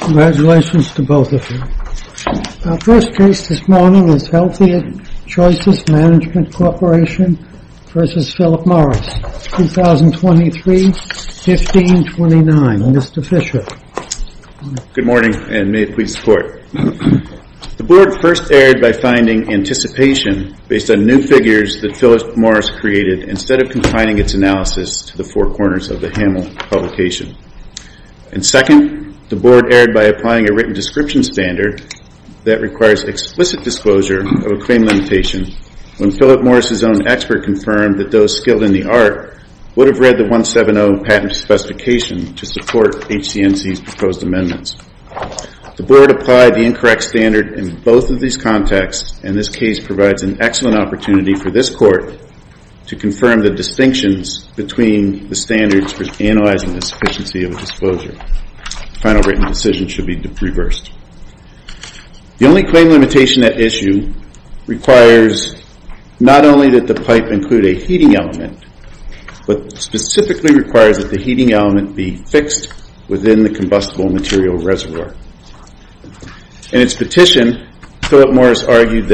Congratulations to both of you. Our first case this morning is Healthier Choices Management Corporation v. Philip Morris, 2023-15-29. Mr. Fischer. Good morning and may it please the Court. The Board first erred by finding anticipation based on new figures that Philip Morris created instead of confining its analysis to the four corners of the Hamill publication. And second, the Board erred by applying a written description standard that requires explicit disclosure of a claim limitation when Philip Morris' own expert confirmed that those skilled in the art would have read the 170 patent specification to support HCNC's proposed amendments. The Board applied the incorrect standard in both of these contexts, and this case provides an excellent opportunity for this Court to confirm the distinctions between the standards for analyzing the sufficiency of a disclosure. The final written decision should be reversed. The only claim limitation at issue requires not only that the pipe include a heating element, but specifically requires that the heating element be fixed within the combustible material reservoir. In its petition, Philip Morris argued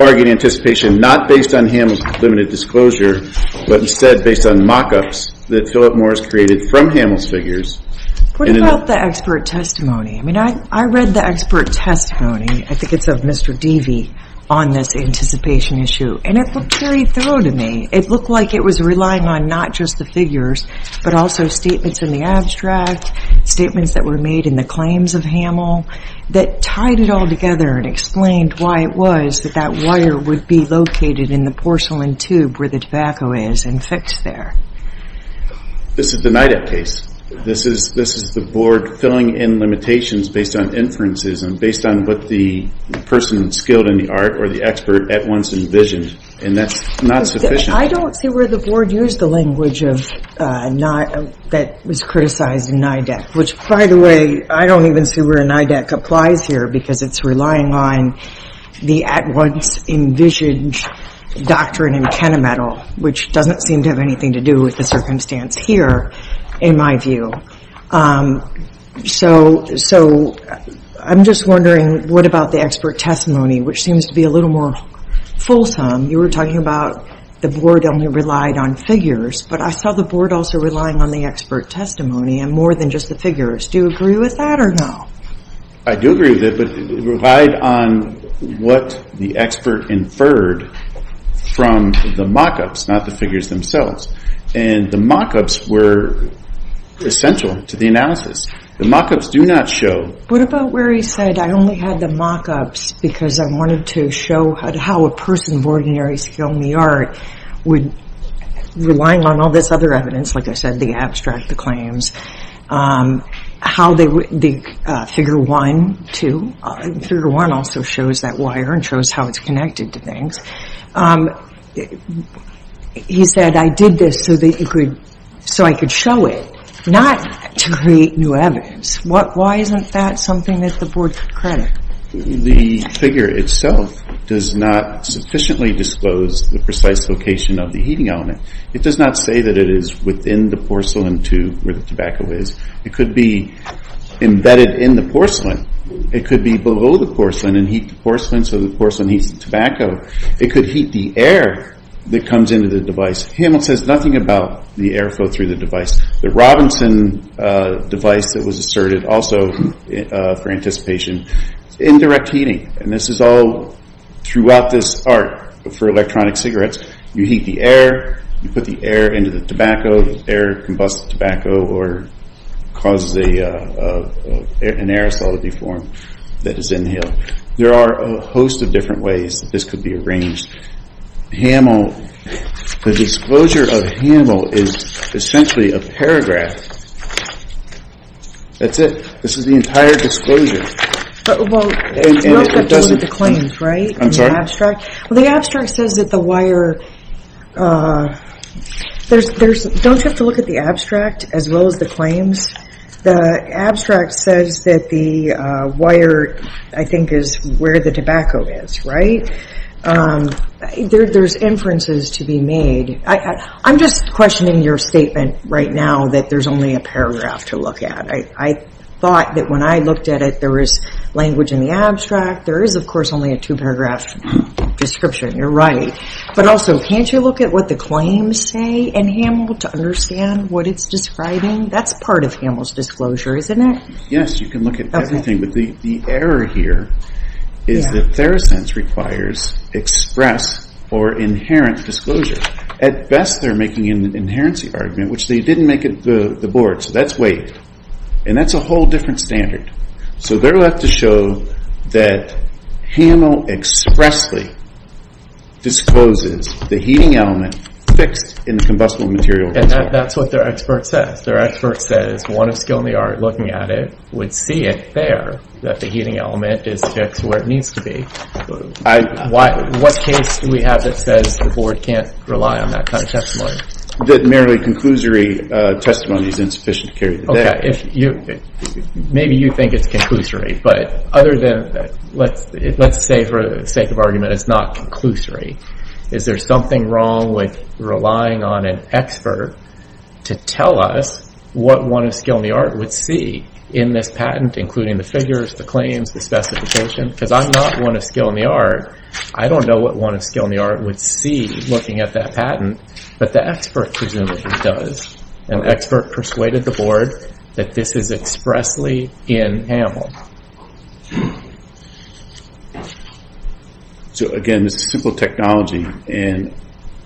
anticipation not based on Hamill's limited disclosure, but instead based on mock-ups that Philip Morris created from Hamill's figures. What about the expert testimony? I mean, I read the expert testimony, I think it's of Mr. Devey, on this anticipation issue, and it looked very thorough to me. It looked like it was relying on not just the figures, but also statements in the abstract, statements that were made in the claims of Hamill that tied it all together and explained why it was that that wire would be located in the porcelain tube where the tobacco is and fixed there. This is the NIDAC case. This is the Board filling in limitations based on inferences and based on what the person skilled in the art or the expert at once envisioned, and that's not sufficient. I don't see where the Board used the language that was criticized in NIDAC, which, by the way, I don't even see where NIDAC applies here because it's relying on the at-once envisioned doctrine in Kennemedal, which doesn't seem to have anything to do with the circumstance here, in my view. So I'm just wondering, what about the expert testimony, which seems to be a little more fulsome? You were talking about the Board only relied on figures, but I saw the Board also relying on the expert testimony and more than just the figures. Do you agree with that or no? I do agree with it, but it relied on what the expert inferred from the mock-ups, not the figures themselves. And the mock-ups were essential to the analysis. The mock-ups do not show. What about where he said, I only had the mock-ups because I wanted to show how a person of ordinary skill in the art would, relying on all this other evidence, like I said, the abstract, the claims, how the figure 1, 2, figure 1 also shows that wire and shows how it's connected to things. He said, I did this so I could show it, not to create new evidence. Why isn't that something that the Board could credit? The figure itself does not sufficiently disclose the precise location of the heating element. It does not say that it is within the porcelain tube where the tobacco is. It could be embedded in the porcelain. It could be below the porcelain and heat the porcelain so the porcelain heats the tobacco. It could heat the air that comes into the device. Hamel says nothing about the air flow through the device. The Robinson device that was asserted also for anticipation, indirect heating, and this is all throughout this art for electronic cigarettes. You heat the air. You put the air into the tobacco. The air combusts the tobacco or causes an aerosol to be formed that is inhaled. There are a host of different ways that this could be arranged. Hamel, the disclosure of Hamel is essentially a paragraph. That's it. This is the entire disclosure. You don't have to look at the claims, right, in the abstract? The abstract says that the wire, don't you have to look at the abstract as well as the claims? The abstract says that the wire, I think, is where the tobacco is, right? There's inferences to be made. I'm just questioning your statement right now that there's only a paragraph to look at. I thought that when I looked at it, there was language in the abstract. There is, of course, only a two-paragraph description. You're right. But also, can't you look at what the claims say in Hamel to understand what it's describing? That's part of Hamel's disclosure, isn't it? Yes, you can look at everything. But the error here is that Theracense requires express or inherent disclosure. At best, they're making an inherency argument, which they didn't make at the Board. So that's waived. And that's a whole different standard. So they're left to show that Hamel expressly discloses the heating element fixed in the combustible material. And that's what their expert says. Their expert says one of skill in the art looking at it would see it there, that the heating element is fixed where it needs to be. What case do we have that says the Board can't rely on that kind of testimony? That merely conclusory testimony is insufficient to carry the day. Maybe you think it's conclusory. But let's say for the sake of argument, it's not conclusory. Is there something wrong with relying on an expert to tell us what one of skill in the art would see in this patent, including the figures, the claims, the specification? Because I'm not one of skill in the art. I don't know what one of skill in the art would see looking at that patent. But the expert presumably does. An expert persuaded the Board that this is expressly in Hamel. So, again, this is simple technology. And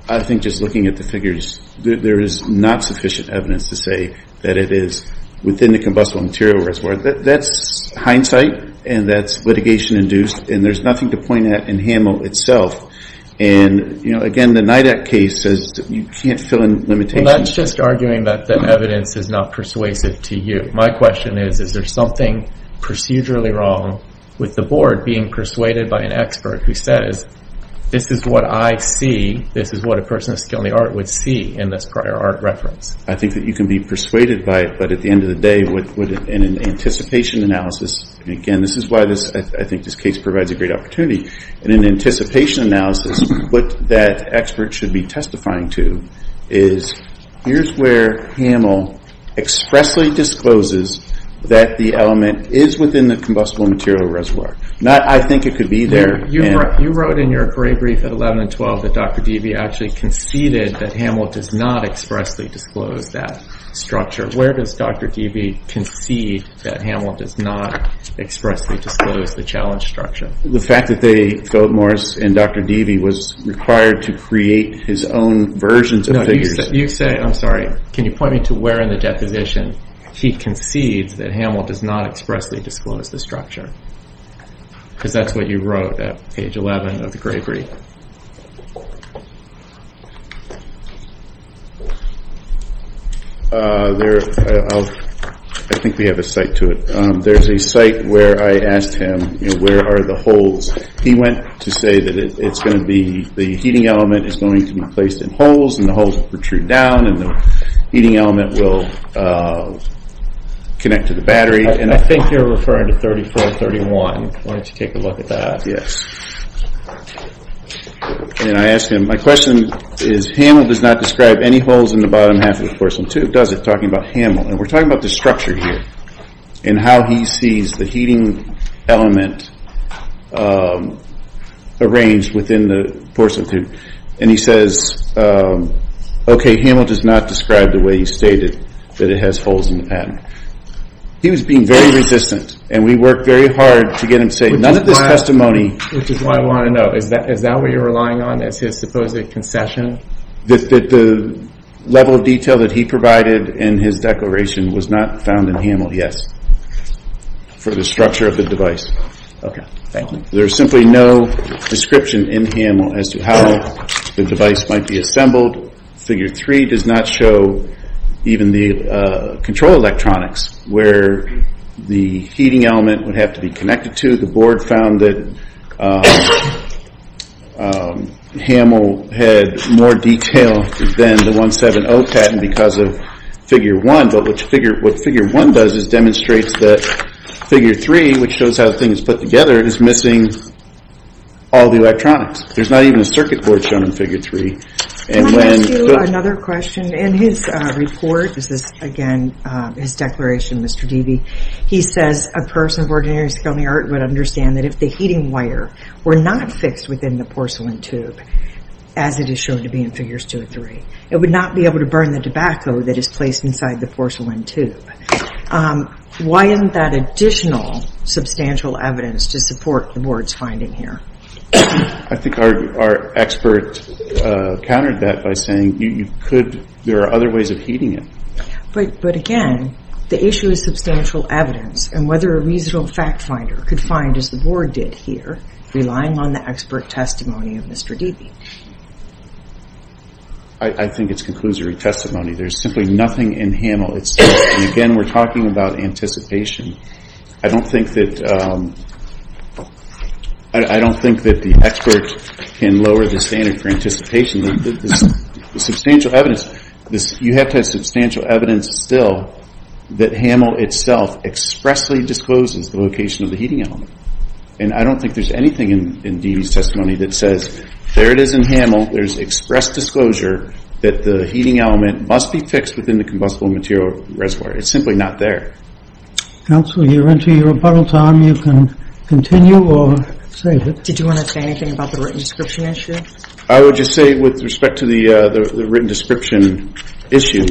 I think just looking at the figures, there is not sufficient evidence to say that it is within the combustible material reservoir. That's hindsight, and that's litigation-induced, and there's nothing to point at in Hamel itself. And, you know, again, the NIDAC case says you can't fill in limitations. Well, that's just arguing that evidence is not persuasive to you. My question is, is there something procedurally wrong with the Board being persuaded by an expert who says, this is what I see, this is what a person of skill in the art would see in this prior art reference? I think that you can be persuaded by it, but at the end of the day, in an anticipation analysis, and again, this is why I think this case provides a great opportunity, in an anticipation analysis, what that expert should be testifying to is, here's where Hamel expressly discloses that the element is within the combustible material reservoir. I think it could be there. You wrote in your gray brief at 11 and 12 that Dr. Deavy actually conceded that Hamel does not expressly disclose that structure. Where does Dr. Deavy concede that Hamel does not expressly disclose the challenge structure? The fact that they, Philip Morris and Dr. Deavy, was required to create his own versions of figures. You say, I'm sorry, can you point me to where in the deposition he concedes that Hamel does not expressly disclose the structure? Because that's what you wrote at page 11 of the gray brief. I think we have a site to it. There's a site where I asked him, where are the holes? He went to say that it's going to be, the heating element is going to be placed in holes, and the holes will protrude down, and the heating element will connect to the battery. I think you're referring to 3431. Why don't you take a look at that? Yes. I asked him, my question is, Hamel does not describe any holes in the bottom half of the porcelain tube, does it? Talking about Hamel. We're talking about the structure here, and how he sees the heating element arranged within the porcelain tube. He says, okay, Hamel does not describe the way he stated that it has holes in the pattern. He was being very resistant, and we worked very hard to get him to say, none of this testimony. Which is why I want to know, is that what you're relying on as his supposed concession? The level of detail that he provided in his declaration was not found in Hamel, yes. For the structure of the device. Okay, thank you. There's simply no description in Hamel as to how the device might be assembled. Figure three does not show even the control electronics, where the heating element would have to be connected to. The board found that Hamel had more detail than the 170 pattern because of figure one. But what figure one does is demonstrate that figure three, which shows how the thing is put together, is missing all the electronics. There's not even a circuit board shown in figure three. Can I ask you another question? In his report, this is again his declaration, Mr. Deavy, he says a person of ordinary skill and merit would understand that if the heating wire were not fixed within the porcelain tube, as it is shown to be in figures two and three, it would not be able to burn the tobacco that is placed inside the porcelain tube. Why isn't that additional substantial evidence to support the board's finding here? I think our expert countered that by saying there are other ways of heating it. But again, the issue is substantial evidence and whether a reasonable fact finder could find, as the board did here, relying on the expert testimony of Mr. Deavy. I think it concludes your testimony. There's simply nothing in Hamel. Again, we're talking about anticipation. I don't think that the expert can lower the standard for anticipation. The substantial evidence, you have to have substantial evidence still that Hamel itself expressly discloses the location of the heating element. And I don't think there's anything in Deavy's testimony that says there it is in Hamel, there's express disclosure that the heating element must be fixed within the combustible material reservoir. It's simply not there. Counsel, you're into your rebuttal time. You can continue or save it. Did you want to say anything about the written description issue? I would just say with respect to the written description issue,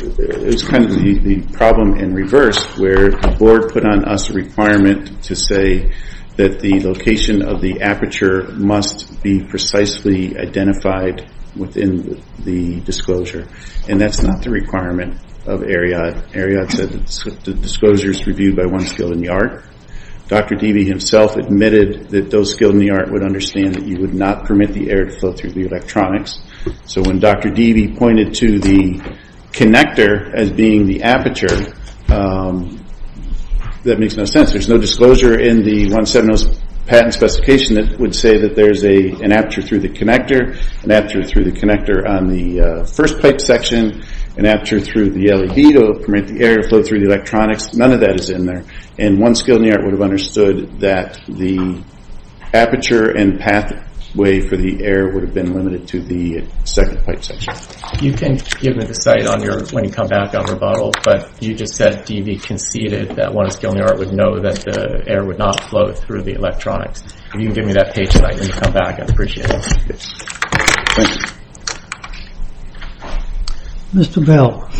it's kind of the problem in reverse where the board put on us a requirement to say that the location of the aperture must be precisely identified within the disclosure. And that's not the requirement of AREOT. AREOT said the disclosure is reviewed by one skilled in the art. Dr. Deavy himself admitted that those skilled in the art would understand that you would not permit the air to flow through the electronics. So when Dr. Deavy pointed to the connector as being the aperture, that makes no sense. There's no disclosure in the 170 patent specification that would say that there's an aperture through the connector, an aperture through the connector on the first pipe section, an aperture through the LED to permit the air to flow through the electronics. None of that is in there. And one skilled in the art would have understood that the aperture and pathway for the air would have been limited to the second pipe section. You can give me the site when you come back on rebuttal, but you just said Deavy conceded that one skilled in the art would know that the air would not flow through the electronics. If you can give me that page tonight when you come back, I'd appreciate it. Yes. Thank you. Mr. Bell.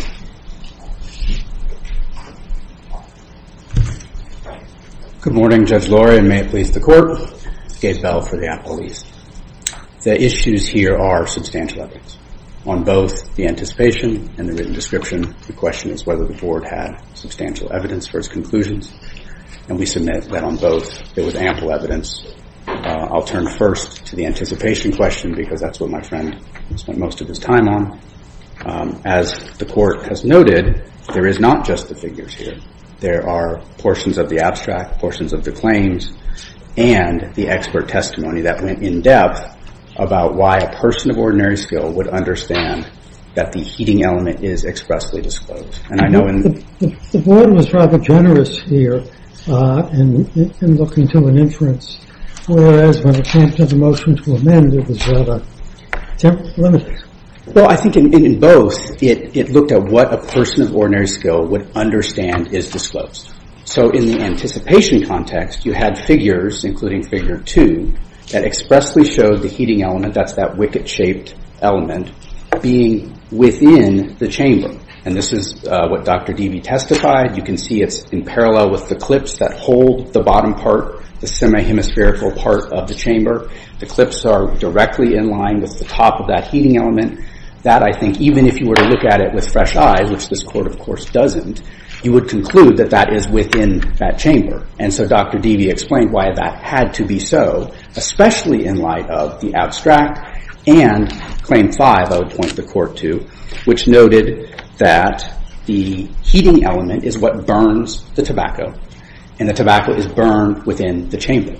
Good morning, Judge Lori, and may it please the Court. Gabe Bell for the Apple East. The issues here are substantial evidence. On both the anticipation and the written description, the question is whether the Board had substantial evidence for its conclusions, and we submit that on both there was ample evidence. I'll turn first to the anticipation question because that's what my friend spent most of his time on. As the Court has noted, there is not just the figures here. There are portions of the abstract, portions of the claims, and the expert testimony that went in depth about why a person of ordinary skill would understand that the heating element is expressly disclosed. The Board was rather generous here in looking to an inference, whereas when it came to the motion to amend, it was rather limited. Well, I think in both it looked at what a person of ordinary skill would understand is disclosed. So in the anticipation context, you had figures, including Figure 2, that expressly showed the heating element, that's that wicket-shaped element, being within the chamber. And this is what Dr. Dewey testified. You can see it's in parallel with the clips that hold the bottom part, the semi-hemispherical part of the chamber. The clips are directly in line with the top of that heating element. And that, I think, even if you were to look at it with fresh eyes, which this Court, of course, doesn't, you would conclude that that is within that chamber. And so Dr. Dewey explained why that had to be so, especially in light of the abstract and Claim 5, I would point the Court to, which noted that the heating element is what burns the tobacco, and the tobacco is burned within the chamber.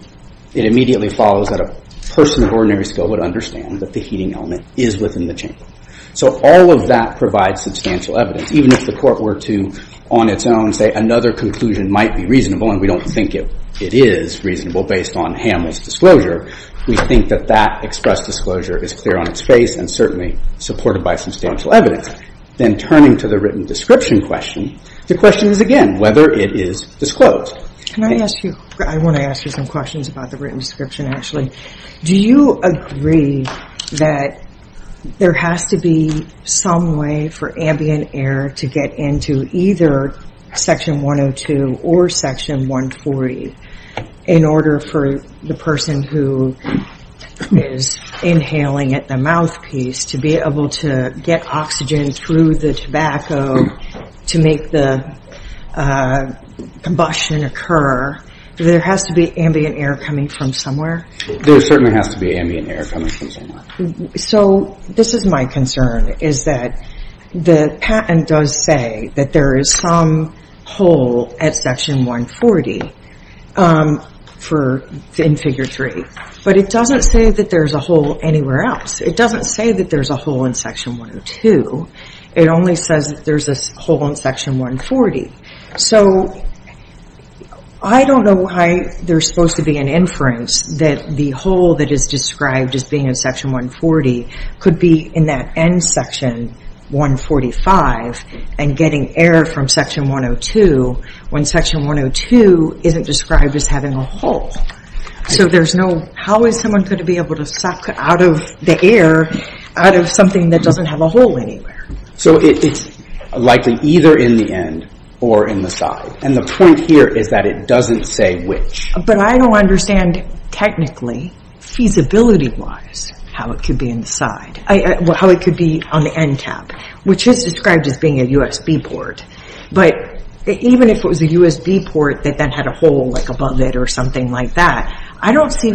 It immediately follows that a person of ordinary skill would understand that the heating element is within the chamber. So all of that provides substantial evidence. Even if the Court were to, on its own, say another conclusion might be reasonable, and we don't think it is reasonable based on Hamill's disclosure, we think that that express disclosure is clear on its face and certainly supported by substantial evidence. Then turning to the written description question, the question is, again, whether it is disclosed. Can I ask you – I want to ask you some questions about the written description, actually. Do you agree that there has to be some way for ambient air to get into either Section 102 or Section 140 in order for the person who is inhaling at the mouthpiece to be able to get oxygen through the tobacco to make the combustion occur? There has to be ambient air coming from somewhere? There certainly has to be ambient air coming from somewhere. So this is my concern, is that the patent does say that there is some hole at Section 140 in Figure 3, but it doesn't say that there's a hole anywhere else. It doesn't say that there's a hole in Section 102. It only says that there's a hole in Section 140. So I don't know why there's supposed to be an inference that the hole that is described as being in Section 140 could be in that end section, 145, and getting air from Section 102 when Section 102 isn't described as having a hole. So there's no – how is someone going to be able to suck out of the air out of something that doesn't have a hole anywhere? So it's likely either in the end or in the side. And the point here is that it doesn't say which. But I don't understand technically, feasibility-wise, how it could be on the end cap, which is described as being a USB port. But even if it was a USB port that then had a hole above it or something like that, I don't see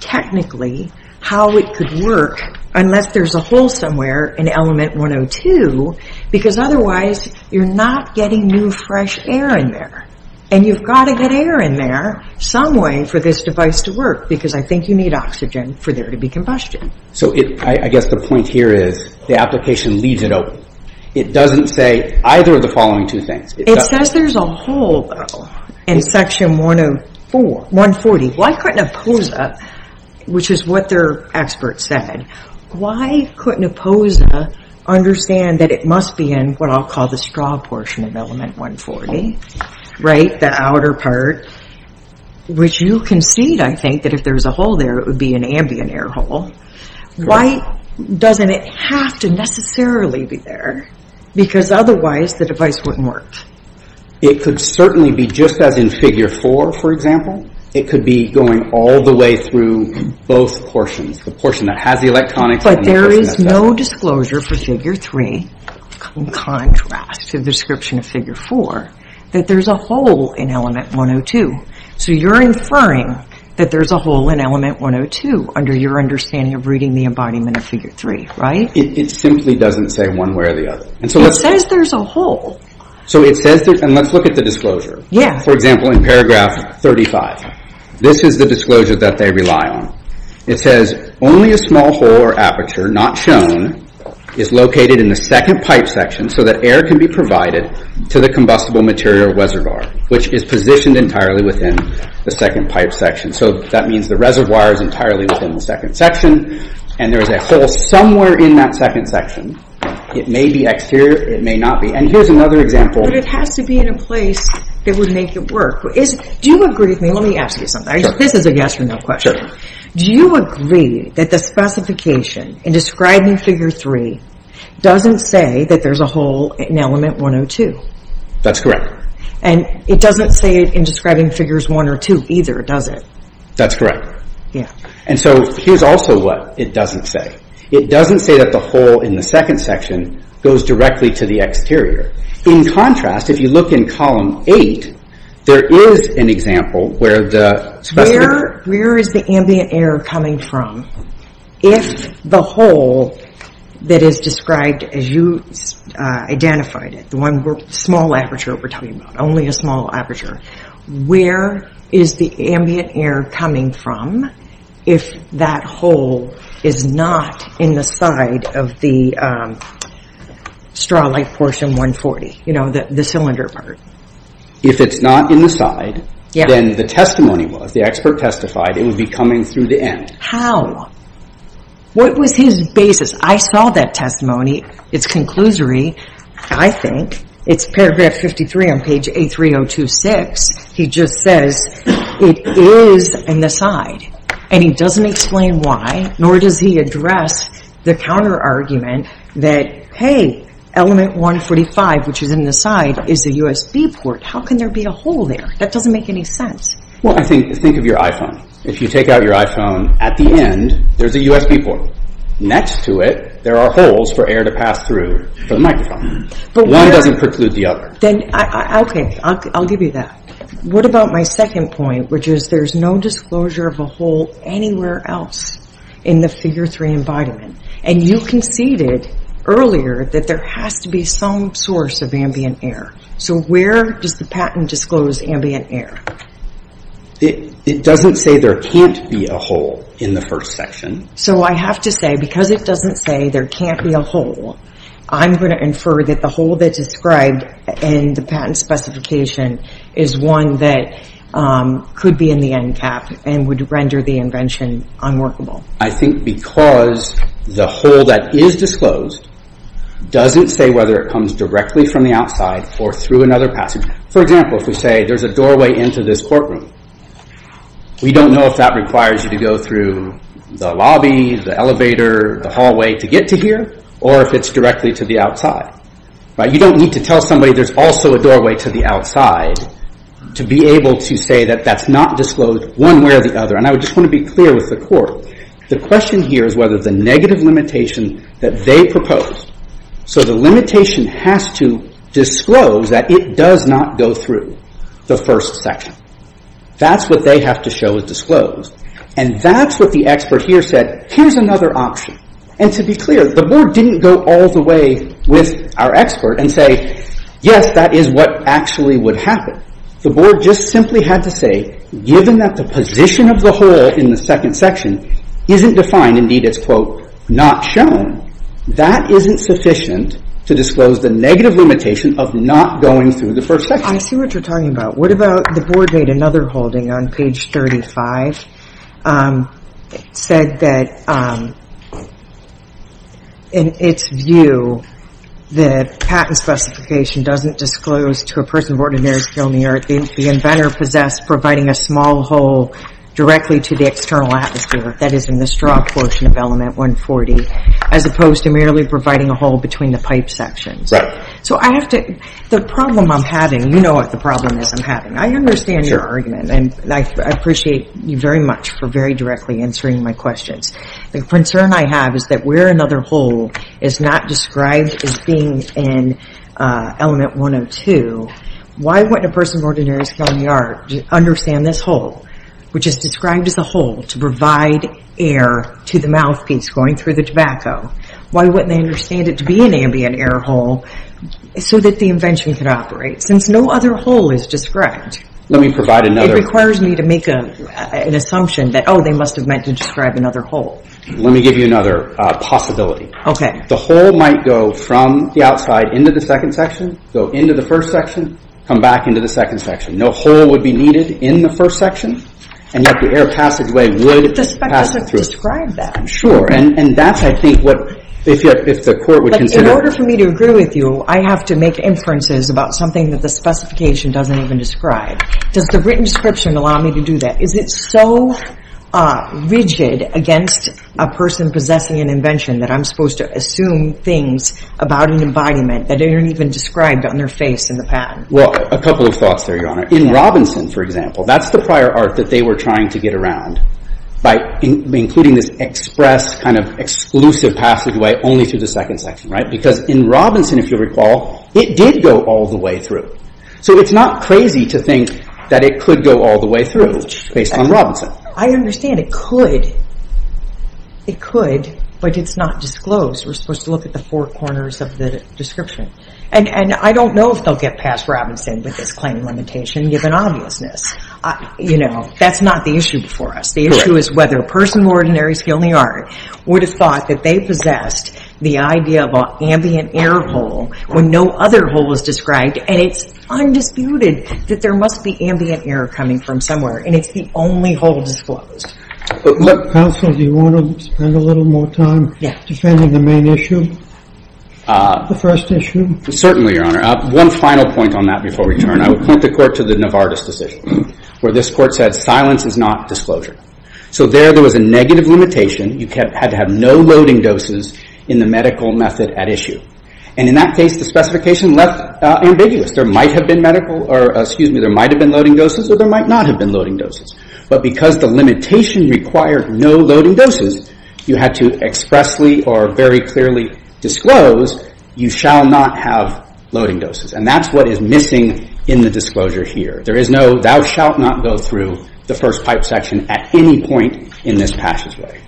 technically how it could work unless there's a hole somewhere in Element 102, because otherwise you're not getting new, fresh air in there. And you've got to get air in there some way for this device to work, because I think you need oxygen for there to be combustion. So I guess the point here is the application leaves it open. It doesn't say either of the following two things. It says there's a hole, though, in Section 140. Why couldn't a POSA, which is what their expert said, why couldn't a POSA understand that it must be in what I'll call the straw portion of Element 140, right, the outer part, which you concede, I think, that if there was a hole there, it would be an ambient air hole. Why doesn't it have to necessarily be there? Because otherwise the device wouldn't work. It could certainly be just as in Figure 4, for example. It could be going all the way through both portions, the portion that has the electronics and the portion that doesn't. But there is no disclosure for Figure 3, in contrast to the description of Figure 4, that there's a hole in Element 102. So you're inferring that there's a hole in Element 102 under your understanding of reading the embodiment of Figure 3, right? It simply doesn't say one way or the other. It says there's a hole. Let's look at the disclosure. For example, in paragraph 35, this is the disclosure that they rely on. It says, only a small hole or aperture, not shown, is located in the second pipe section so that air can be provided to the combustible material reservoir, which is positioned entirely within the second pipe section. So that means the reservoir is entirely within the second section, and there is a hole somewhere in that second section. It may be exterior, it may not be. And here's another example. But it has to be in a place that would make it work. Do you agree with me? Let me ask you something. This is a yes or no question. Do you agree that the specification in describing Figure 3 doesn't say that there's a hole in Element 102? That's correct. And it doesn't say it in describing Figures 1 or 2 either, does it? That's correct. And so here's also what it doesn't say. It doesn't say that the hole in the second section goes directly to the exterior. In contrast, if you look in Column 8, there is an example where the specification... Where is the ambient air coming from if the hole that is described as you identified it, the small aperture we're talking about, only a small aperture, where is the ambient air coming from if that hole is not in the side of the straw-like portion 140, you know, the cylinder part? If it's not in the side, then the testimony was, the expert testified it would be coming through the end. How? What was his basis? I saw that testimony. It's conclusory, I think. It's paragraph 53 on page 83026. He just says it is in the side. And he doesn't explain why, nor does he address the counter-argument that, hey, element 145, which is in the side, is a USB port. How can there be a hole there? That doesn't make any sense. Well, think of your iPhone. If you take out your iPhone, at the end, there's a USB port. Next to it, there are holes for air to pass through for the microphone. One doesn't preclude the other. Then, okay, I'll give you that. What about my second point, which is there's no disclosure of a hole anywhere else in the figure 3 environment? And you conceded earlier that there has to be some source of ambient air. So where does the patent disclose ambient air? It doesn't say there can't be a hole in the first section. So I have to say, because it doesn't say there can't be a hole, I'm going to infer that the hole that's described in the patent specification is one that could be in the end cap and would render the invention unworkable. I think because the hole that is disclosed doesn't say whether it comes directly from the outside or through another passage. For example, if we say there's a doorway into this courtroom, we don't know if that requires you to go through the lobby, the elevator, the hallway, to get to here, or if it's directly to the outside. You don't need to tell somebody there's also a doorway to the outside to be able to say that that's not disclosed one way or the other. And I just want to be clear with the Court. The question here is whether the negative limitation that they proposed, so the limitation has to disclose that it does not go through the first section. That's what they have to show is disclosed. And that's what the expert here said, here's another option. And to be clear, the Board didn't go all the way with our expert and say, yes, that is what actually would happen. The Board just simply had to say, given that the position of the hole in the second section isn't defined, indeed it's, quote, not shown, that isn't sufficient to disclose the negative limitation of not going through the first section. I see what you're talking about. What about, the Board made another holding on page 35. It said that, in its view, that patent specification doesn't disclose to a person of ordinary skill, the inventor possessed providing a small hole directly to the external atmosphere, that is in the straw portion of element 140, as opposed to merely providing a hole between the pipe sections. So I have to, the problem I'm having, you know what the problem is, I understand your argument and I appreciate you very much for very directly answering my questions. The concern I have is that where another hole is not described as being in element 102, why wouldn't a person of ordinary skill in the art understand this hole, which is described as a hole to provide air to the mouthpiece going through the tobacco, why wouldn't they understand it to be an ambient air hole so that the invention could operate? Since no other hole is described, it requires me to make an assumption that, oh, they must have meant to describe another hole. Let me give you another possibility. Okay. The hole might go from the outside into the second section, go into the first section, come back into the second section. No hole would be needed in the first section, and yet the air passageway would pass it through. But the spec doesn't describe that. Sure. And that's, I think, what, if the Court would consider. In order for me to agree with you, I have to make inferences about something that the specification doesn't even describe. Does the written description allow me to do that? Is it so rigid against a person possessing an invention that I'm supposed to assume things about an embodiment that aren't even described on their face in the patent? Well, a couple of thoughts there, Your Honor. In Robinson, for example, that's the prior art that they were trying to get around by including this express kind of exclusive passageway only to the second section. Right? Because in Robinson, if you recall, it did go all the way through. So it's not crazy to think that it could go all the way through based on Robinson. I understand it could. It could, but it's not disclosed. We're supposed to look at the four corners of the description. And I don't know if they'll get past Robinson with this claim limitation, given obviousness. You know, that's not the issue before us. The issue is whether a person of ordinary skill in the art would have thought that they possessed the idea of an ambient air hole when no other hole was described. And it's undisputed that there must be ambient air coming from somewhere. And it's the only hole disclosed. Counsel, do you want to spend a little more time defending the main issue? The first issue? Certainly, Your Honor. One final point on that before we turn. I would point the Court to the Novartis decision, where this Court said silence is not disclosure. So there, there was a negative limitation. You had to have no loading doses in the medical method at issue. And in that case, the specification left ambiguous. There might have been medical or, excuse me, there might have been loading doses or there might not have been loading doses. But because the limitation required no loading doses, you had to expressly or very clearly disclose you shall not have loading doses. And that's what is missing in the disclosure here. There is no, thou shalt not go through the first pipe section at any point in this passageway.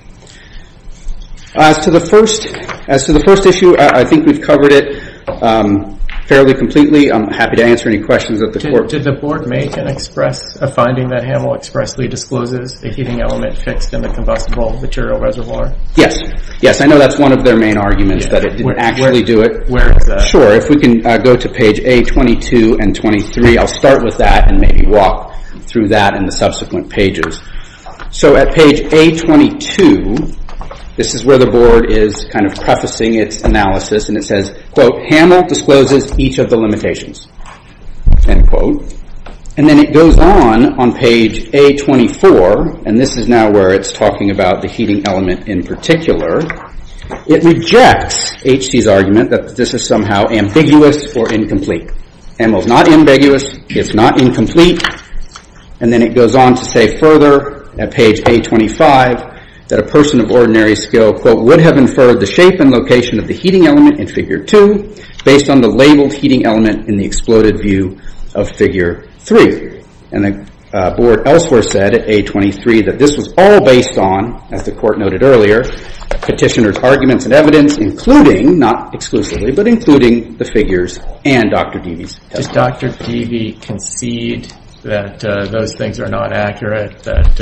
As to the first, as to the first issue, I think we've covered it fairly completely. I'm happy to answer any questions that the Court... Did the Court make and express a finding that Hamel expressly discloses a heating element fixed in the combustible material reservoir? Yes. Yes, I know that's one of their main arguments, that it didn't actually do it. Where is that? Sure, if we can go to page A22 and 23. I'll start with that and maybe walk through that in the subsequent pages. So at page A22, this is where the Board is kind of prefacing its analysis and it says, quote, Hamel discloses each of the limitations, end quote. And then it goes on, on page A24, and this is now where it's talking about the heating element in particular. It rejects H.C.'s argument that this is somehow ambiguous or incomplete. Hamel's not ambiguous. It's not incomplete. And then it goes on to say further at page A25 that a person of ordinary skill, quote, would have inferred the shape and location of the heating element in Figure 2 based on the labeled heating element in the exploded view of Figure 3. And the Board elsewhere said at A23 that this was all based on, as the Court noted earlier, Petitioner's arguments and evidence, including, not exclusively, but including the figures and Dr. Deavy's testimony. Does Dr. Deavy concede that those things are not accurate, that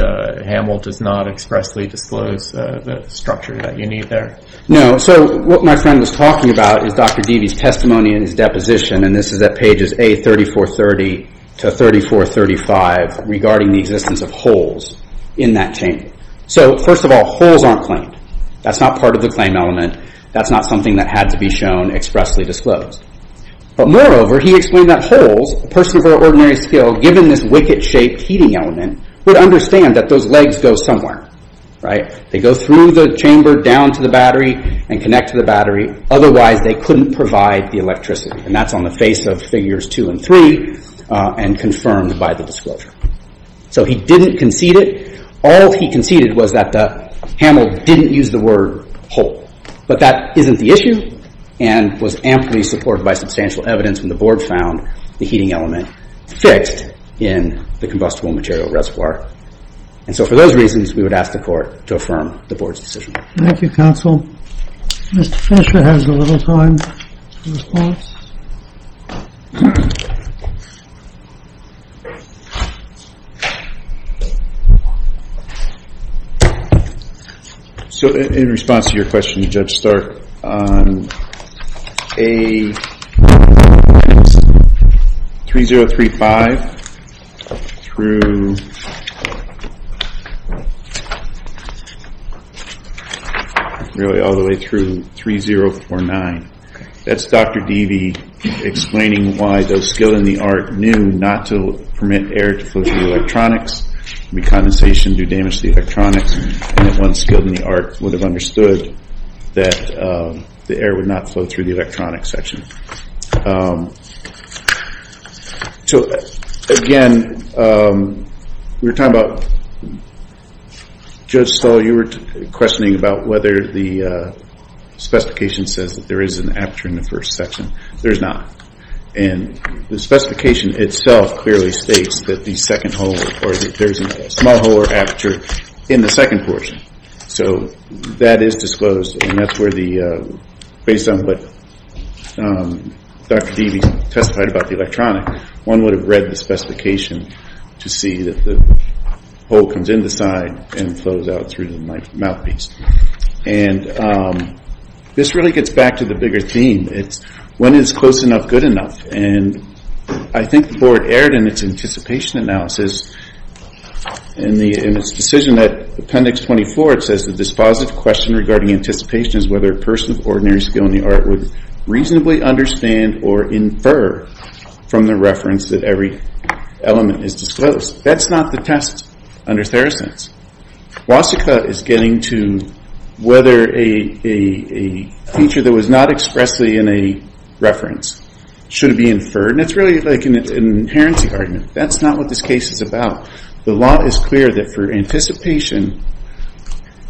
Hamel does not expressly disclose the structure that you need there? No. So what my friend was talking about is Dr. Deavy's testimony in his deposition, and this is at pages A3430 to 3435, regarding the existence of holes in that chamber. So, first of all, holes aren't claimed. That's not part of the claim element. That's not something that had to be shown, expressly disclosed. But moreover, he explained that holes, a person of ordinary skill, given this wicket-shaped heating element, would understand that those legs go somewhere, right? They go through the chamber down to the battery and connect to the battery. Otherwise, they couldn't provide the electricity, and that's on the face of Figures 2 and 3 and confirmed by the disclosure. So he didn't concede it. All he conceded was that Hamel didn't use the word hole. But that isn't the issue and was amply supported by substantial evidence when the board found the heating element fixed in the combustible material reservoir. And so for those reasons, we would ask the court to affirm the board's decision. Thank you, counsel. Mr. Fisher has a little time for response. So in response to your question, Judge Stark, on A3035 through... Really, all the way through 3049, that's Dr. Deevee, explaining why those skilled in the art knew not to permit air to flow through the electronics, recondensation do damage to the electronics, and that one skilled in the art would have understood that the air would not flow through the electronics section. So, again, we were talking about... Judge Stahl, you were questioning about whether the specification says that there is an aperture in the first section. There's not. And the specification itself clearly states that there's a small hole or aperture in the second portion. So that is disclosed, and that's where the... Based on what Dr. Deevee testified about the electronics, one would have read the specification to see that the hole comes in the side and flows out through the mouthpiece. And this really gets back to the bigger theme. It's when it's close enough, good enough. And I think the board erred in its anticipation analysis in its decision that Appendix 24, it says the dispositive question regarding anticipation is whether a person of ordinary skill in the art would reasonably understand or infer from the reference that every element is disclosed. That's not the test under Theracents. Wasika is getting to whether a feature that was not expressly in a reference should be inferred. And it's really like an inherency argument. That's not what this case is about. The law is clear that for anticipation,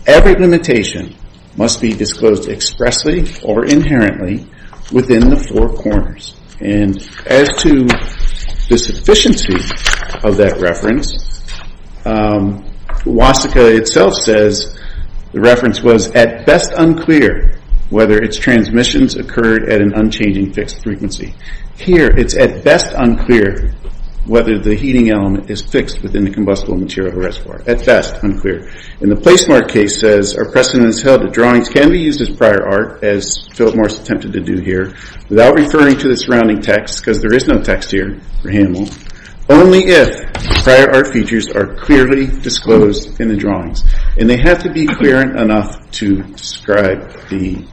every limitation must be disclosed expressly or inherently within the four corners. And as to the sufficiency of that reference, Wasika itself says the reference was at best unclear whether its transmissions occurred at an unchanging fixed frequency. Here, it's at best unclear whether the heating element is fixed within the combustible material reservoir. At best unclear. And the Placemark case says our precedence held that drawings can be used as prior art, as Philip Morris attempted to do here, without referring to the surrounding text, because there is no text here for Hamel, only if prior art features are clearly disclosed in the drawings. And they have to be clear enough to describe the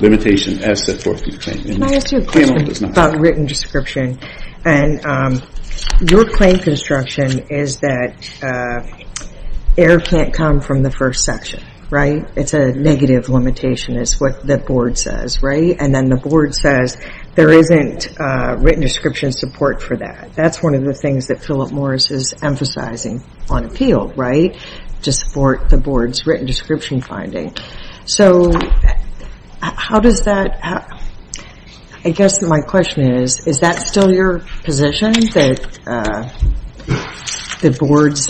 limitation as set forth in the claim. Can I ask you a question about written description? And your claim construction is that air can't come from the first section, right? It's a negative limitation is what the board says, right? And then the board says there isn't written description support for that. That's one of the things that Philip Morris is emphasizing on appeal, right? To support the board's written description finding. So how does that happen? I guess my question is, is that still your position? That the board's,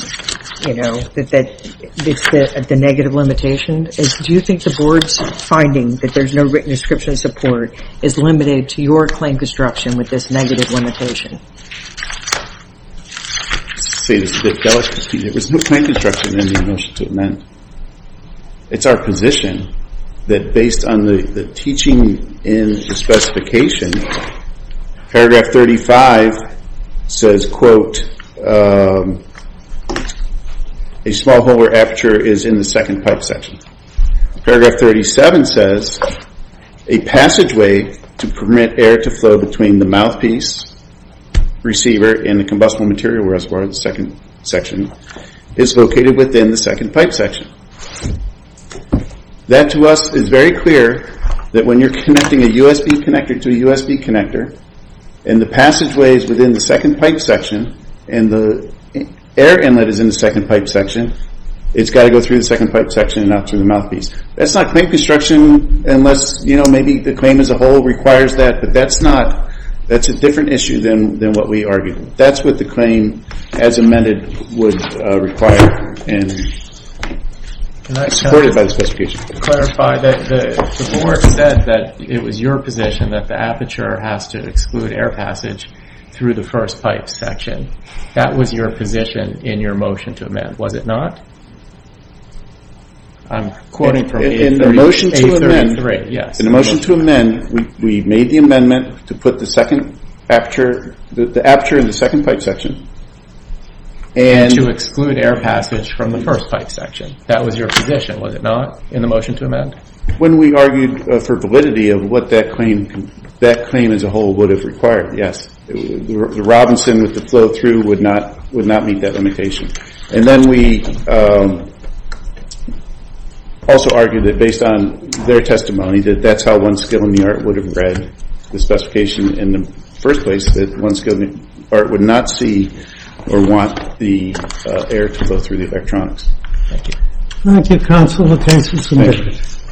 you know, that it's the negative limitation? Do you think the board's finding that there's no written description support is limited to your claim construction with this negative limitation? I'll say this a bit delicately. There was no claim construction in the motion to amend. It's our position that based on the teaching in the specification, paragraph 35 says, quote, a small hole where aperture is in the second pipe section. Paragraph 37 says, a passageway to permit air to flow between the mouthpiece receiver and the combustible material reservoir in the second section is located within the second pipe section. That to us is very clear that when you're connecting a USB connector to a USB connector and the passageway is within the second pipe section and the air inlet is in the second pipe section, it's got to go through the second pipe section and not through the mouthpiece. That's not claim construction unless, you know, maybe the claim as a whole requires that, but that's not, that's a different issue than what we argued. That's what the claim as amended would require and supported by the specification. Can I clarify that the board said that it was your position that the aperture has to exclude air passage through the first pipe section. That was your position in your motion to amend, was it not? I'm quoting from A33, yes. In the motion to amend, we made the amendment to put the aperture in the second pipe section. And to exclude air passage from the first pipe section. That was your position, was it not, in the motion to amend? When we argued for validity of what that claim, that claim as a whole would have required, yes. The Robinson with the flow through would not meet that limitation. And then we also argued that based on their testimony that that's how one skill in the art would have read the specification in the first place that one skill in the art would not see or want the air to go through the electronics. Thank you. Thank you, counsel. We'll take some submissions.